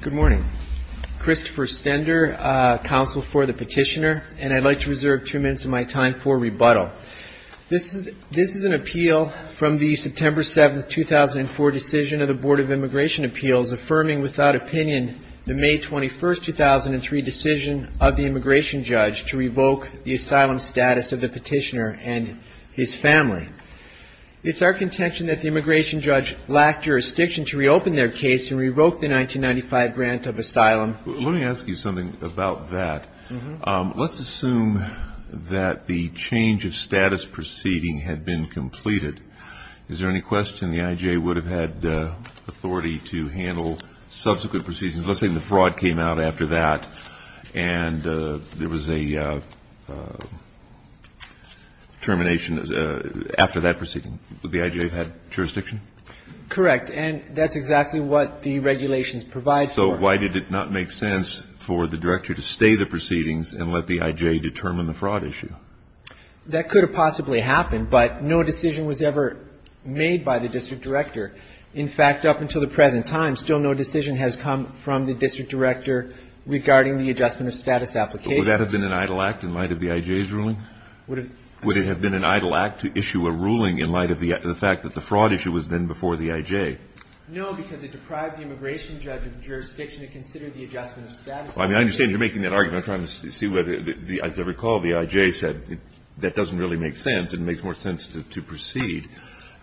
Good morning. Christopher Stender, Counsel for the Petitioner, and I'd like to reserve two minutes of my time for rebuttal. This is an appeal from the September 7, 2004, decision of the Board of Immigration Appeals affirming without opinion the May 21, 2003, decision of the immigration judge to revoke the asylum status of the petitioner and his family. It's our contention that the immigration judge lacked jurisdiction to reopen their case and revoke the 1995 grant of asylum. Let me ask you something about that. Let's assume that the change of status proceeding had been completed. Is there any question the I.J. would have had authority to handle subsequent proceedings? Let's say the fraud came out after that and there was a termination after that proceeding. Would the I.J. have had jurisdiction? Correct. And that's exactly what the regulations provide for. So why did it not make sense for the director to stay the proceedings and let the I.J. determine the fraud issue? That could have possibly happened, but no decision was ever made by the district director. In fact, up until the present time, still no decision has come from the district director regarding the adjustment of status applications. But would that have been an idle act in light of the I.J.'s ruling? Would it have been an idle act to issue a ruling in light of the fact that the fraud issue was then before the I.J.? No, because it deprived the immigration judge of jurisdiction to consider the adjustment of status. I mean, I understand you're making that argument. I'm trying to see whether, as I recall, the I.J. said that doesn't really make sense. It makes more sense to proceed.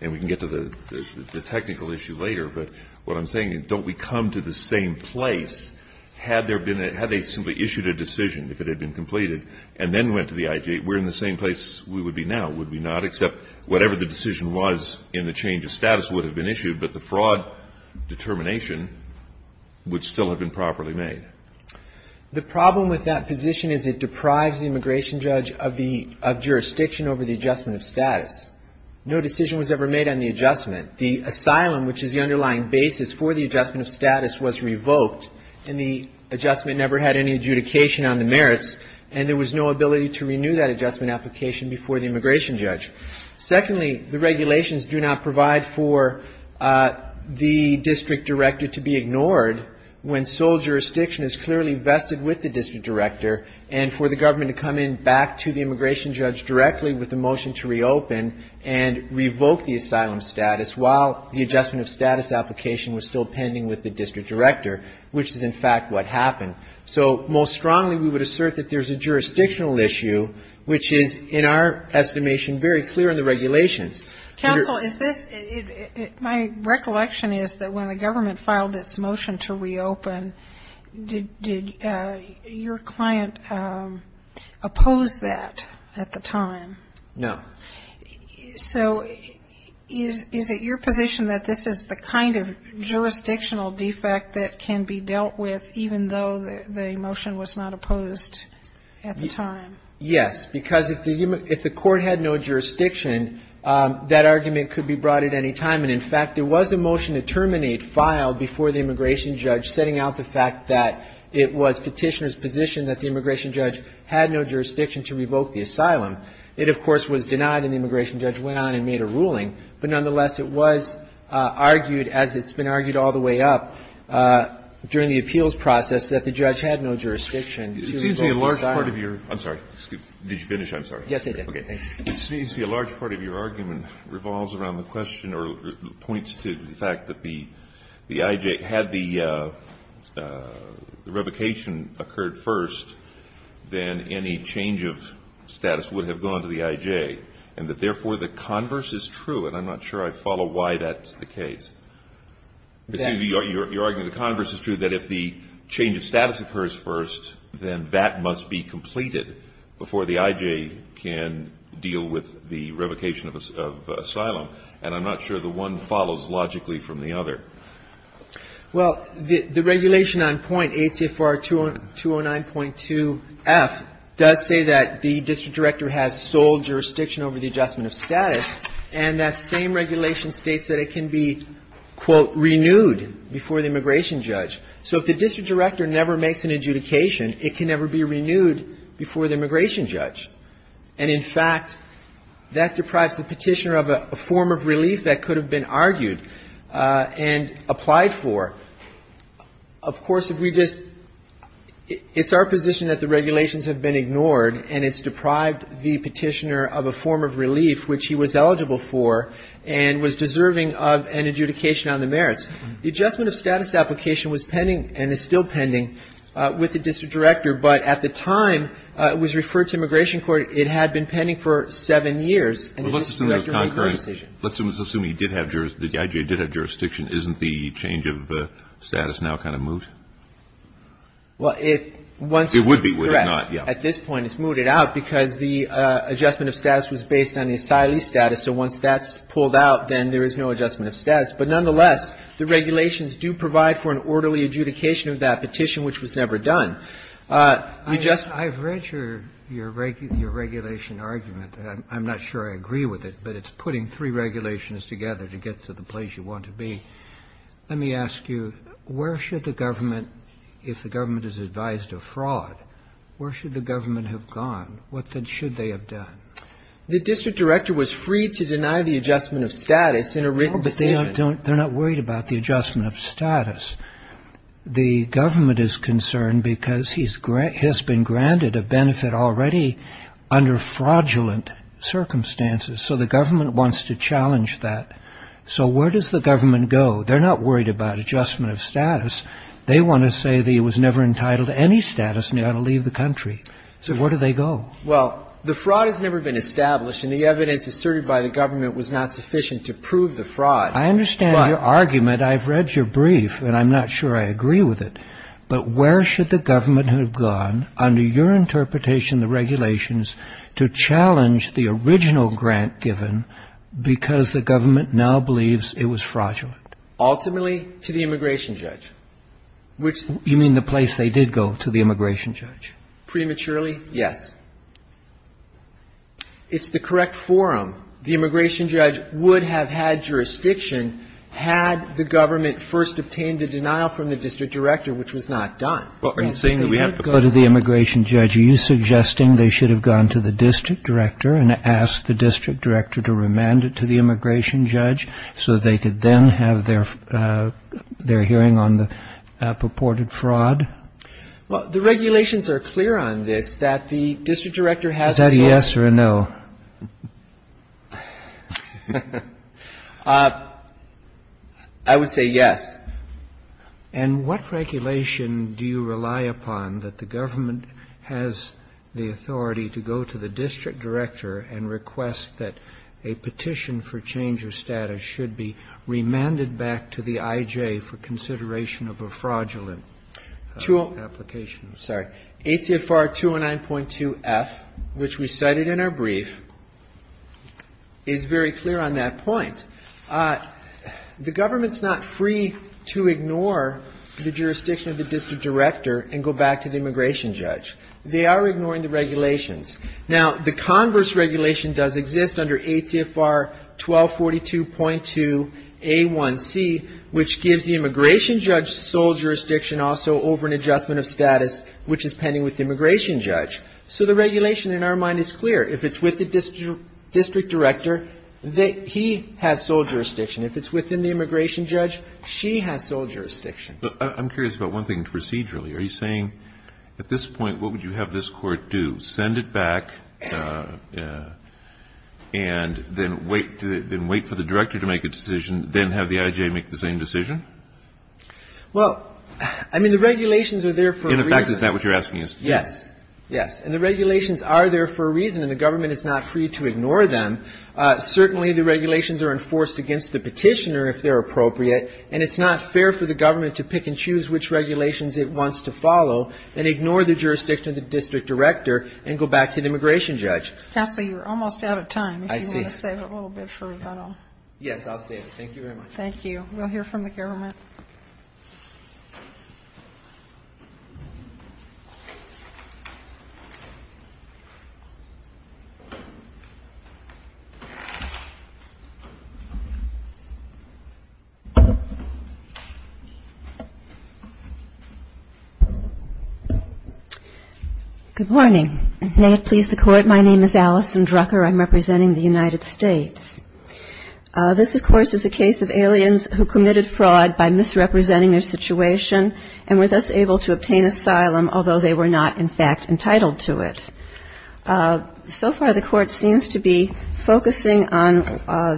And we can get to the technical issue later, but what I'm saying, don't we come to the same place? Had there been a, had they simply issued a decision, if it had been completed, and then went to the I.J., we're in the same place we would be now, would we not? Except whatever the decision was in the change of status would have been issued, but the fraud determination would still have been properly made. The problem with that position is it deprives the immigration judge of the, of jurisdiction over the adjustment of status. No decision was ever made on the adjustment. The asylum, which is the underlying basis for the adjustment of status, was revoked, and the adjustment never had any adjudication on the merits, and there was no ability to renew that adjustment application before the immigration judge. Secondly, the regulations do not provide for the district director to be ignored when sole jurisdiction is clearly vested with the district director, and for the government to come in immigration judge directly with a motion to reopen and revoke the asylum status while the adjustment of status application was still pending with the district director, which is in fact what happened. So most strongly we would assert that there's a jurisdictional issue which is, in our estimation, very clear in the regulations. Counsel, is this, my recollection is that when the government filed its motion to reopen, did your client oppose that at the time? No. So is it your position that this is the kind of jurisdictional defect that can be dealt with even though the motion was not opposed at the time? Yes, because if the court had no jurisdiction, that argument could be brought at any time, and in fact there was a motion to terminate filed before the immigration judge setting out the fact that it was Petitioner's position that the immigration judge had no jurisdiction to revoke the asylum. It, of course, was denied, and the immigration judge went on and made a ruling, but nonetheless it was argued, as it's been argued all the way up during the appeals process, that the judge had no jurisdiction to revoke the asylum. It seems to me a large part of your – I'm sorry. Did you finish? I'm sorry. Yes, I did. Okay. It seems to me a large part of your argument revolves around the question or points to the fact that the IJ had the revocation occurred first, then any change of status would have gone to the IJ, and that therefore the converse is true, and I'm not sure I follow why that's the case. Exactly. It seems to me you're arguing the converse is true, that if the change of status occurs first, then that must be completed before the IJ can deal with the revocation of asylum, and I'm not sure the one follows logically from the other. Well, the regulation on point, ATFR 209.2f, does say that the district director has sole jurisdiction over the adjustment of status, and that same regulation states that it can be, quote, renewed before the immigration judge. So if the district director never makes an adjudication, it can never be renewed before the immigration judge. And in fact, that deprives the petitioner of a form of relief that could have been argued and applied for. Of course, if we just, it's our position that the regulations have been ignored, and it's deprived the petitioner of a form of relief which he was eligible for and was deserving of an adjudication on the merits. The adjustment of status application was pending and is still pending with the district director, but at the time it was referred to immigration court, it had been pending for seven years. And the district director made no decision. Well, let's assume he did have jurisdiction, the IJ did have jurisdiction. Isn't the change of status now kind of moot? Well, if once we correct, at this point it's mooted out, because the adjustment of status was based on the asylee status, so once that's pulled out, then there is no adjustment of status. But nonetheless, the regulations do provide for an orderly adjudication of that petition, which was never done. I've read your regulation argument. I'm not sure I agree with it, but it's putting three regulations together to get to the place you want to be. Let me ask you, where should the government, if the government is advised of fraud, where should the government have gone? What then should they have done? The district director was free to deny the adjustment of status in a written decision. No, but they're not worried about the adjustment of status. The government is concerned because he has been granted a benefit already under fraudulent circumstances, so the government wants to challenge that. So where does the government go? They're not worried about adjustment of status. They want to say that he was never entitled to any status and he ought to leave the country. So where do they go? Well, the fraud has never been established, and the evidence asserted by the government was not sufficient to prove the fraud. I understand your argument. I've read your brief, and I'm not sure I agree with it. But where should the government have gone, under your interpretation of the regulations, to challenge the original grant given because the government now believes it was fraudulent? Ultimately, to the immigration judge. You mean the place they did go, to the immigration judge? Prematurely, yes. It's the correct forum. The immigration judge would have had jurisdiction had the government first obtained the denial from the district director, which was not done. Well, are you saying that we have to go to the immigration judge? Are you suggesting they should have gone to the district director and asked the district director to remand it to the immigration judge so they could then have their hearing on the purported fraud? Well, the regulations are clear on this, that the district director has to go to the immigration judge. Is that a yes or a no? I would say yes. And what regulation do you rely upon that the government has the authority to go to the district director and request that a petition for change of status should be remanded back to the I.J. for consideration of a fraudulent application? ATFR 209.2 F, which we cited in our brief, is very clear on that point. The government's not free to ignore the jurisdiction of the district director and go back to the immigration judge. They are ignoring the regulations. Now, the Congress regulation does exist under ATFR 1242.2 A1C, which gives the immigration judge. So the regulation in our mind is clear. If it's with the district director, he has sole jurisdiction. If it's within the immigration judge, she has sole jurisdiction. I'm curious about one thing procedurally. Are you saying at this point, what would you have this Court do, send it back and then wait for the director to make a decision, then have the I.J. make the same decision? Well, I mean, the regulations are there for a reason. In fact, is that what you're asking us? Yes. Yes. And the regulations are there for a reason, and the government is not free to ignore them. Certainly the regulations are enforced against the petitioner if they're appropriate, and it's not fair for the government to pick and choose which regulations it wants to follow and ignore the jurisdiction of the district director and go back to the immigration judge. Counsel, you're almost out of time. If you want to save a little bit for... Yes, I'll save it. Thank you very much. Thank you. We'll hear from the government. Good morning. May it please the Court, my name is Alison Drucker. I'm representing the United States. This, of course, is a case of aliens who committed fraud by misrepresenting their situation and were thus able to obtain asylum, although they were not, in fact, entitled to it. So far, the Court seems to be focusing on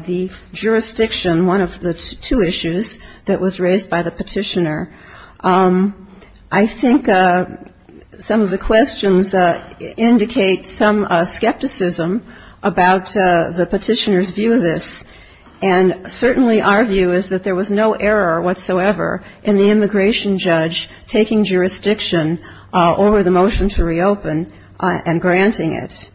the jurisdiction, which is one of the two issues that was raised by the petitioner. I think some of the questions indicate some skepticism about the petitioner's view of this, and certainly our view is that there was no error whatsoever in the immigration judge taking jurisdiction over the motion to reopen and granting it.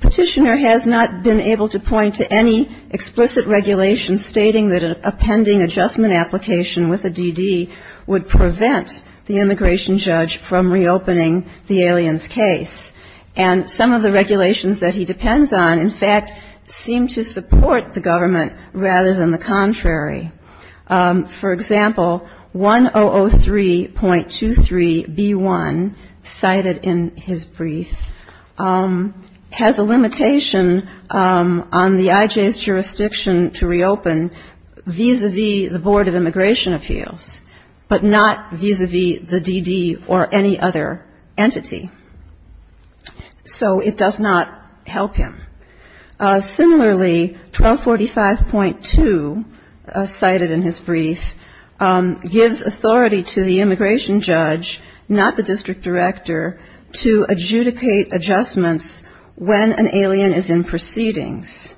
Petitioner has not been able to point to any explicit regulation stating that a pending adjustment application with a DD would prevent the immigration judge from reopening the aliens' case. And some of the regulations that he depends on, in fact, seem to support the government rather than the contrary. For example, 1003.23b1, cited in his brief, has a limitation on the IJ's jurisdiction to reopen vis-a-vis the Board of Immigration Appeals, but not vis-a-vis the DD or any other entity. So it does not help him. Similarly, 1245.2, cited in his brief, gives authority to the immigration judge, not the district director, to adjudicate adjustments when an alien is in proceedings.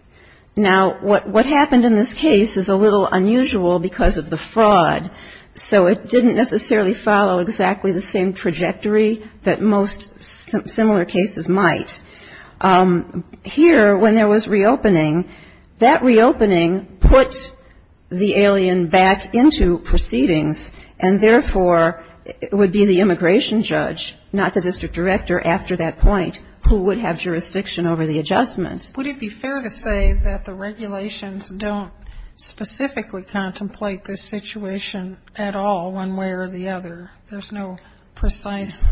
Now, what happened in this case is a little unusual because of the fraud. So it didn't necessarily follow exactly the same trajectory that most similar cases might. Here, when there was reopening, that reopening put the alien back into proceedings, and therefore, it would be the immigration judge, not the district director after that point, who would have jurisdiction over the adjustment. Sotomayor Would it be fair to say that the regulations don't specifically contemplate this situation at all, one way or the other? There's no precise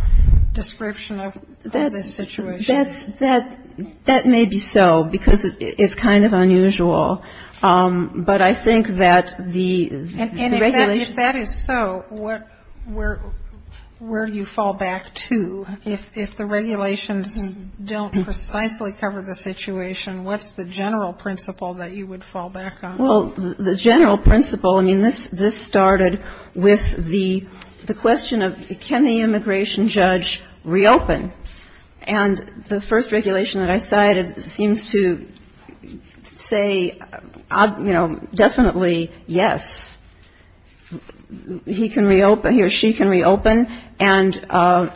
description of this situation. Blackman That may be so, because it's kind of unusual. But I think that the regulations Kagan And if that is so, where do you fall back to? If the regulations don't precisely cover the situation, what's the general principle that you would fall back on? Blackman Well, the general principle, I mean, this started with the question of can the immigration judge reopen? And the first regulation that I cited seems to say, you know, definitely yes. He can reopen, he or she can reopen, and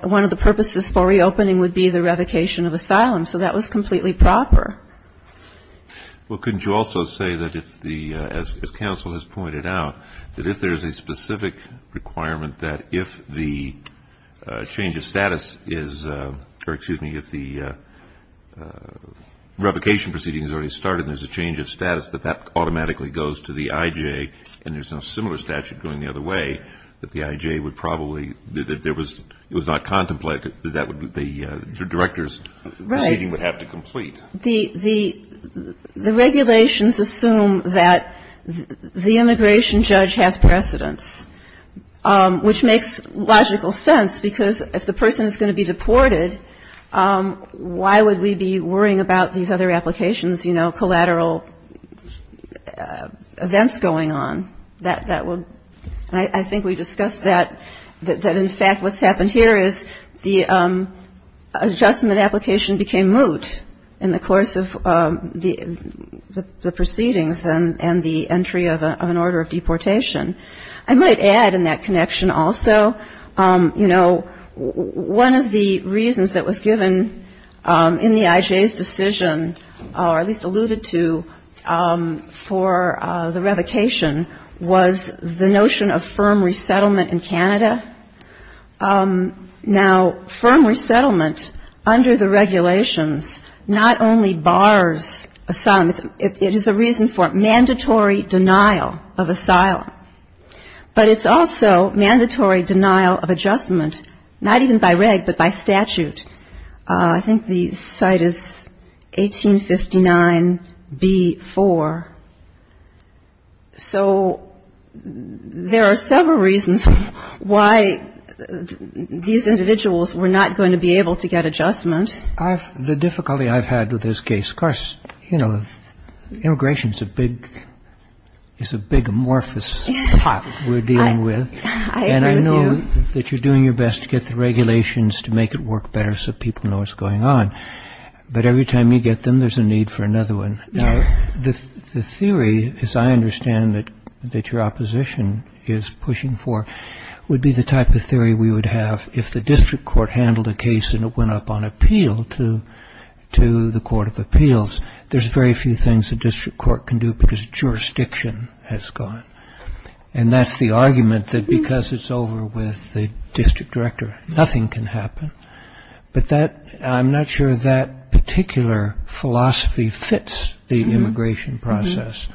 one of the purposes for reopening would be the revocation of asylum. So that was completely proper. Kennedy Well, couldn't you also say that if the, as counsel has pointed out, that if there's a specific requirement that if the change of status is, or excuse me, if the revocation proceeding has already started and there's a change of status, that that automatically goes to the I.J., and there's no similar statute going the other way, that the I.J. would probably, that there was, it was not contemplated that that would be the director's proceeding would have to complete? Blackman The regulations assume that the immigration judge has precedence, which makes logical sense, because if the person is going to be deported, why would we be worrying about these other applications, you know, collateral events going on? That would, I think we discussed that, that in fact what's happened here is the adjustment application became moot in the course of the proceedings and the entry of an order of deportation. I might add in that connection also, you know, one of the reasons that was given in the I.J.'s decision, or at least alluded to, for the revocation was the notion of firm resettlement in Canada. Now, firm resettlement under the regulations not only bars asylum, it is a reason for mandatory denial of asylum, but it's also mandatory denial of adjustment, not even by reg, but by statute. I think the site is 1859b-4. So there are several reasons why these individuals were not going to be able to get adjustment. Kennedy The difficulty I've had with this case, of course, you know, immigration is a big amorphous pot we're dealing with, and I know that you're doing your best to get the regulations to make it work better so people know what's going on. But every time you get them, there's a need for another one. Now, the theory, as I understand it, that your opposition is pushing for would be the type of theory we would have if the district court handled a case and it went up on appeal to the court of appeals. There's very few things a district court can do because jurisdiction has gone. And that's the argument that because it's over with the district director, nothing can happen. But I'm not sure that particular philosophy fits the immigration process.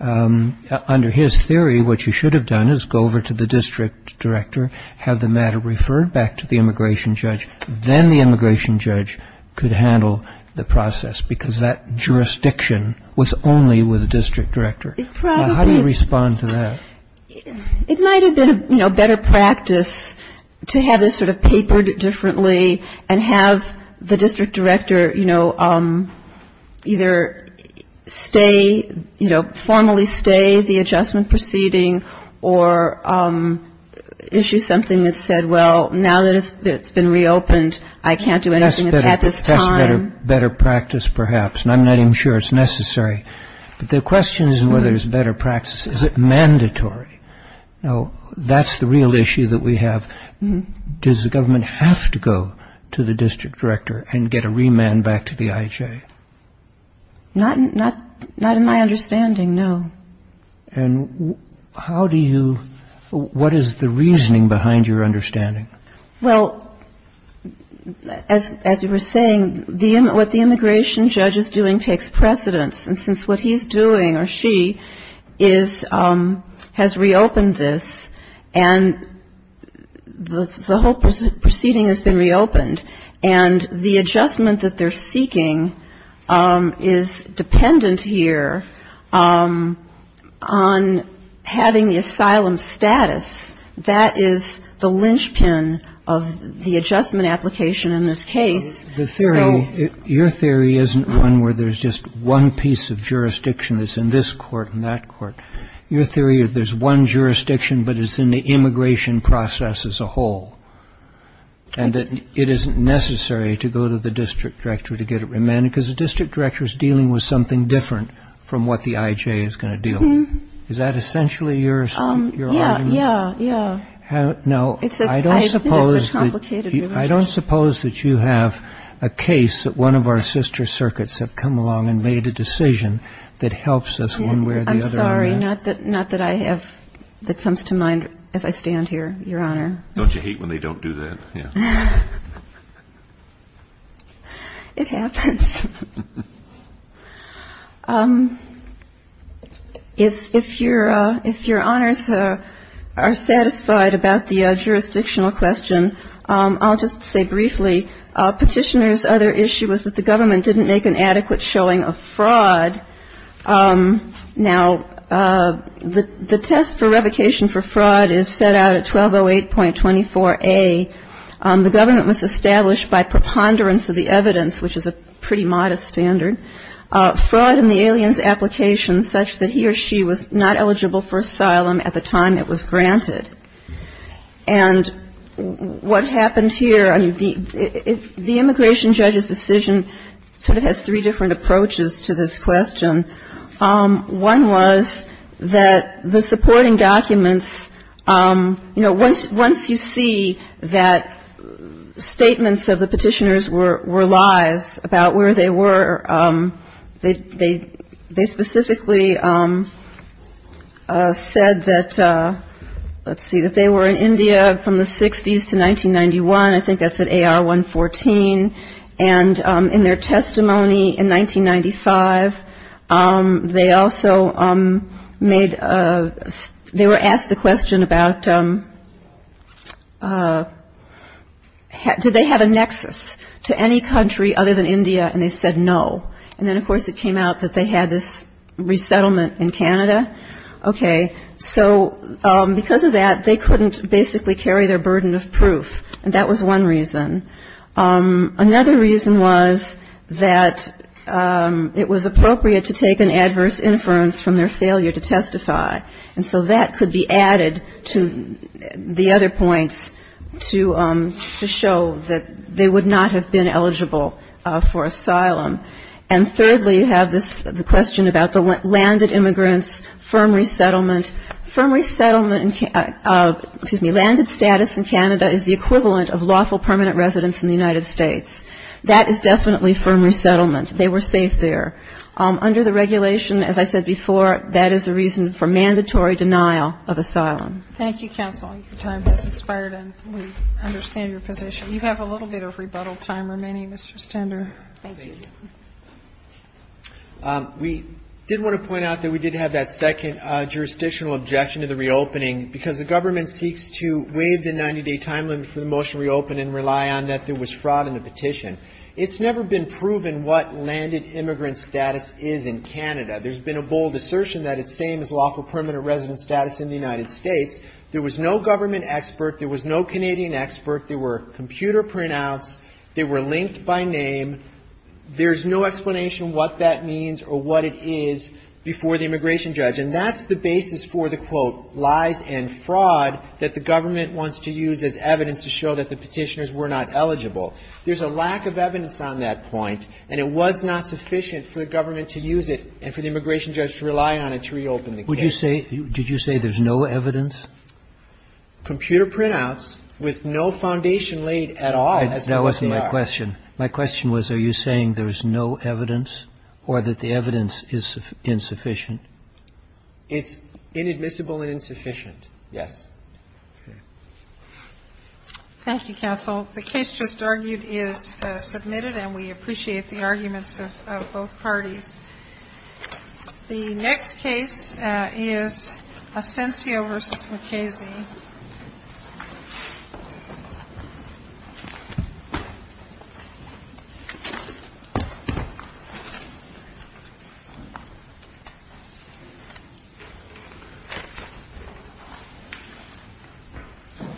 Under his theory, what you should have done is go over to the district director, have the matter referred, have it brought back to the immigration judge. Then the immigration judge could handle the process because that jurisdiction was only with the district director. Now, how do you respond to that? It might have been a better practice to have this sort of papered differently and have the district director, you know, either stay, you know, formally stay the adjustment proceeding or issue something that said, well, now that it's been reopened, I can't do anything at this time. That's better practice, perhaps, and I'm not even sure it's necessary. But the question is whether it's better practice. Is it mandatory? Now, that's the real issue that we have. Does the government have to go to the district director and get a remand back to the IHA? Not in my understanding, no. And the question is whether it's better practice. And the question is whether it's mandatory. And how do you — what is the reasoning behind your understanding? Well, as you were saying, what the immigration judge is doing takes precedence. And since what he's doing, or she, is — has reopened this, and the whole proceeding on having the asylum status, that is the linchpin of the adjustment application in this case. The theory — your theory isn't one where there's just one piece of jurisdiction that's in this court and that court. Your theory is there's one jurisdiction, but it's in the immigration process as a whole, and that it isn't necessary to go to the district director to get a remand, because the district director is dealing with something different from what the IHA is going to deal with. Is that essentially your argument? Yeah, yeah, yeah. I don't suppose that you have a case that one of our sister circuits have come along and made a decision that helps us one way or the other on that. I'm sorry, not that I have — that comes to mind as I stand here, Your Honor. Don't you hate when they don't do that? It happens. If Your Honors are satisfied about the jurisdictional question, I'll just say briefly, Petitioner's other issue was that the government didn't make an adequate showing of fraud. Now, the test for revocation for fraud is set out at 1208.24a, and the test for revocation for fraud is set out at 1208.24a. The government was established by preponderance of the evidence, which is a pretty modest standard, fraud in the alien's application such that he or she was not eligible for asylum at the time it was granted. And what happened here — I mean, the immigration judge's decision sort of has three different approaches to this question. One was that the supporting documents — you know, once you see that the person who is in charge of the asylum, you see that the statements of the Petitioner's were lies about where they were. They specifically said that — let's see — that they were in India from the 60s to 1991. I think that's at AR-114. And in their testimony in 1995, they also made — they were asked the question about, you know, whether or not the petitioner's had a nexus to any country other than India, and they said no. And then, of course, it came out that they had this resettlement in Canada. Okay. So because of that, they couldn't basically carry their burden of proof, and that was one reason. Another reason was that it was appropriate to take an adverse inference from their failure to testify, and so that could be added to the other points to show that they would not have been eligible for asylum. And thirdly, you have this question about the landed immigrants, firm resettlement. Firm resettlement — excuse me — landed status in Canada is the equivalent of lawful permanent residence in the United States. That is definitely firm resettlement. They were safe there. Under the regulation, as I said before, that is a reason for mandatory denial of asylum. Thank you, counsel. Your time has expired, and we understand your position. You have a little bit of rebuttal time remaining, Mr. Stender. Thank you. We did want to point out that we did have that second jurisdictional objection to the reopening, because the government seeks to waive the 90-day time limit for the motion to reopen and rely on that there was fraud in the petition. It's never been proven what landed immigrant status is in Canada. There's been a bold assertion that it's the same as lawful permanent residence status in the United States. There was no government expert. There was no Canadian expert. There were computer printouts. They were linked by name. There's no explanation what that means or what it is before the immigration judge. And that's the basis for the, quote, lies and fraud that the government wants to use as evidence to show that the petitioners were not eligible. There's a lack of evidence on that point, and it was not sufficient for the government to use it and for the immigration judge to rely on it to reopen the case. It's not sufficient. It's not sufficient. The foundation laid at all as to what they are. That wasn't my question. My question was, are you saying there's no evidence or that the evidence is insufficient? It's inadmissible and insufficient, yes. Okay. Thank you, counsel. The case just argued is submitted, and we appreciate the arguments of both parties. The next case is Asensio v. McKaysey. Thank you.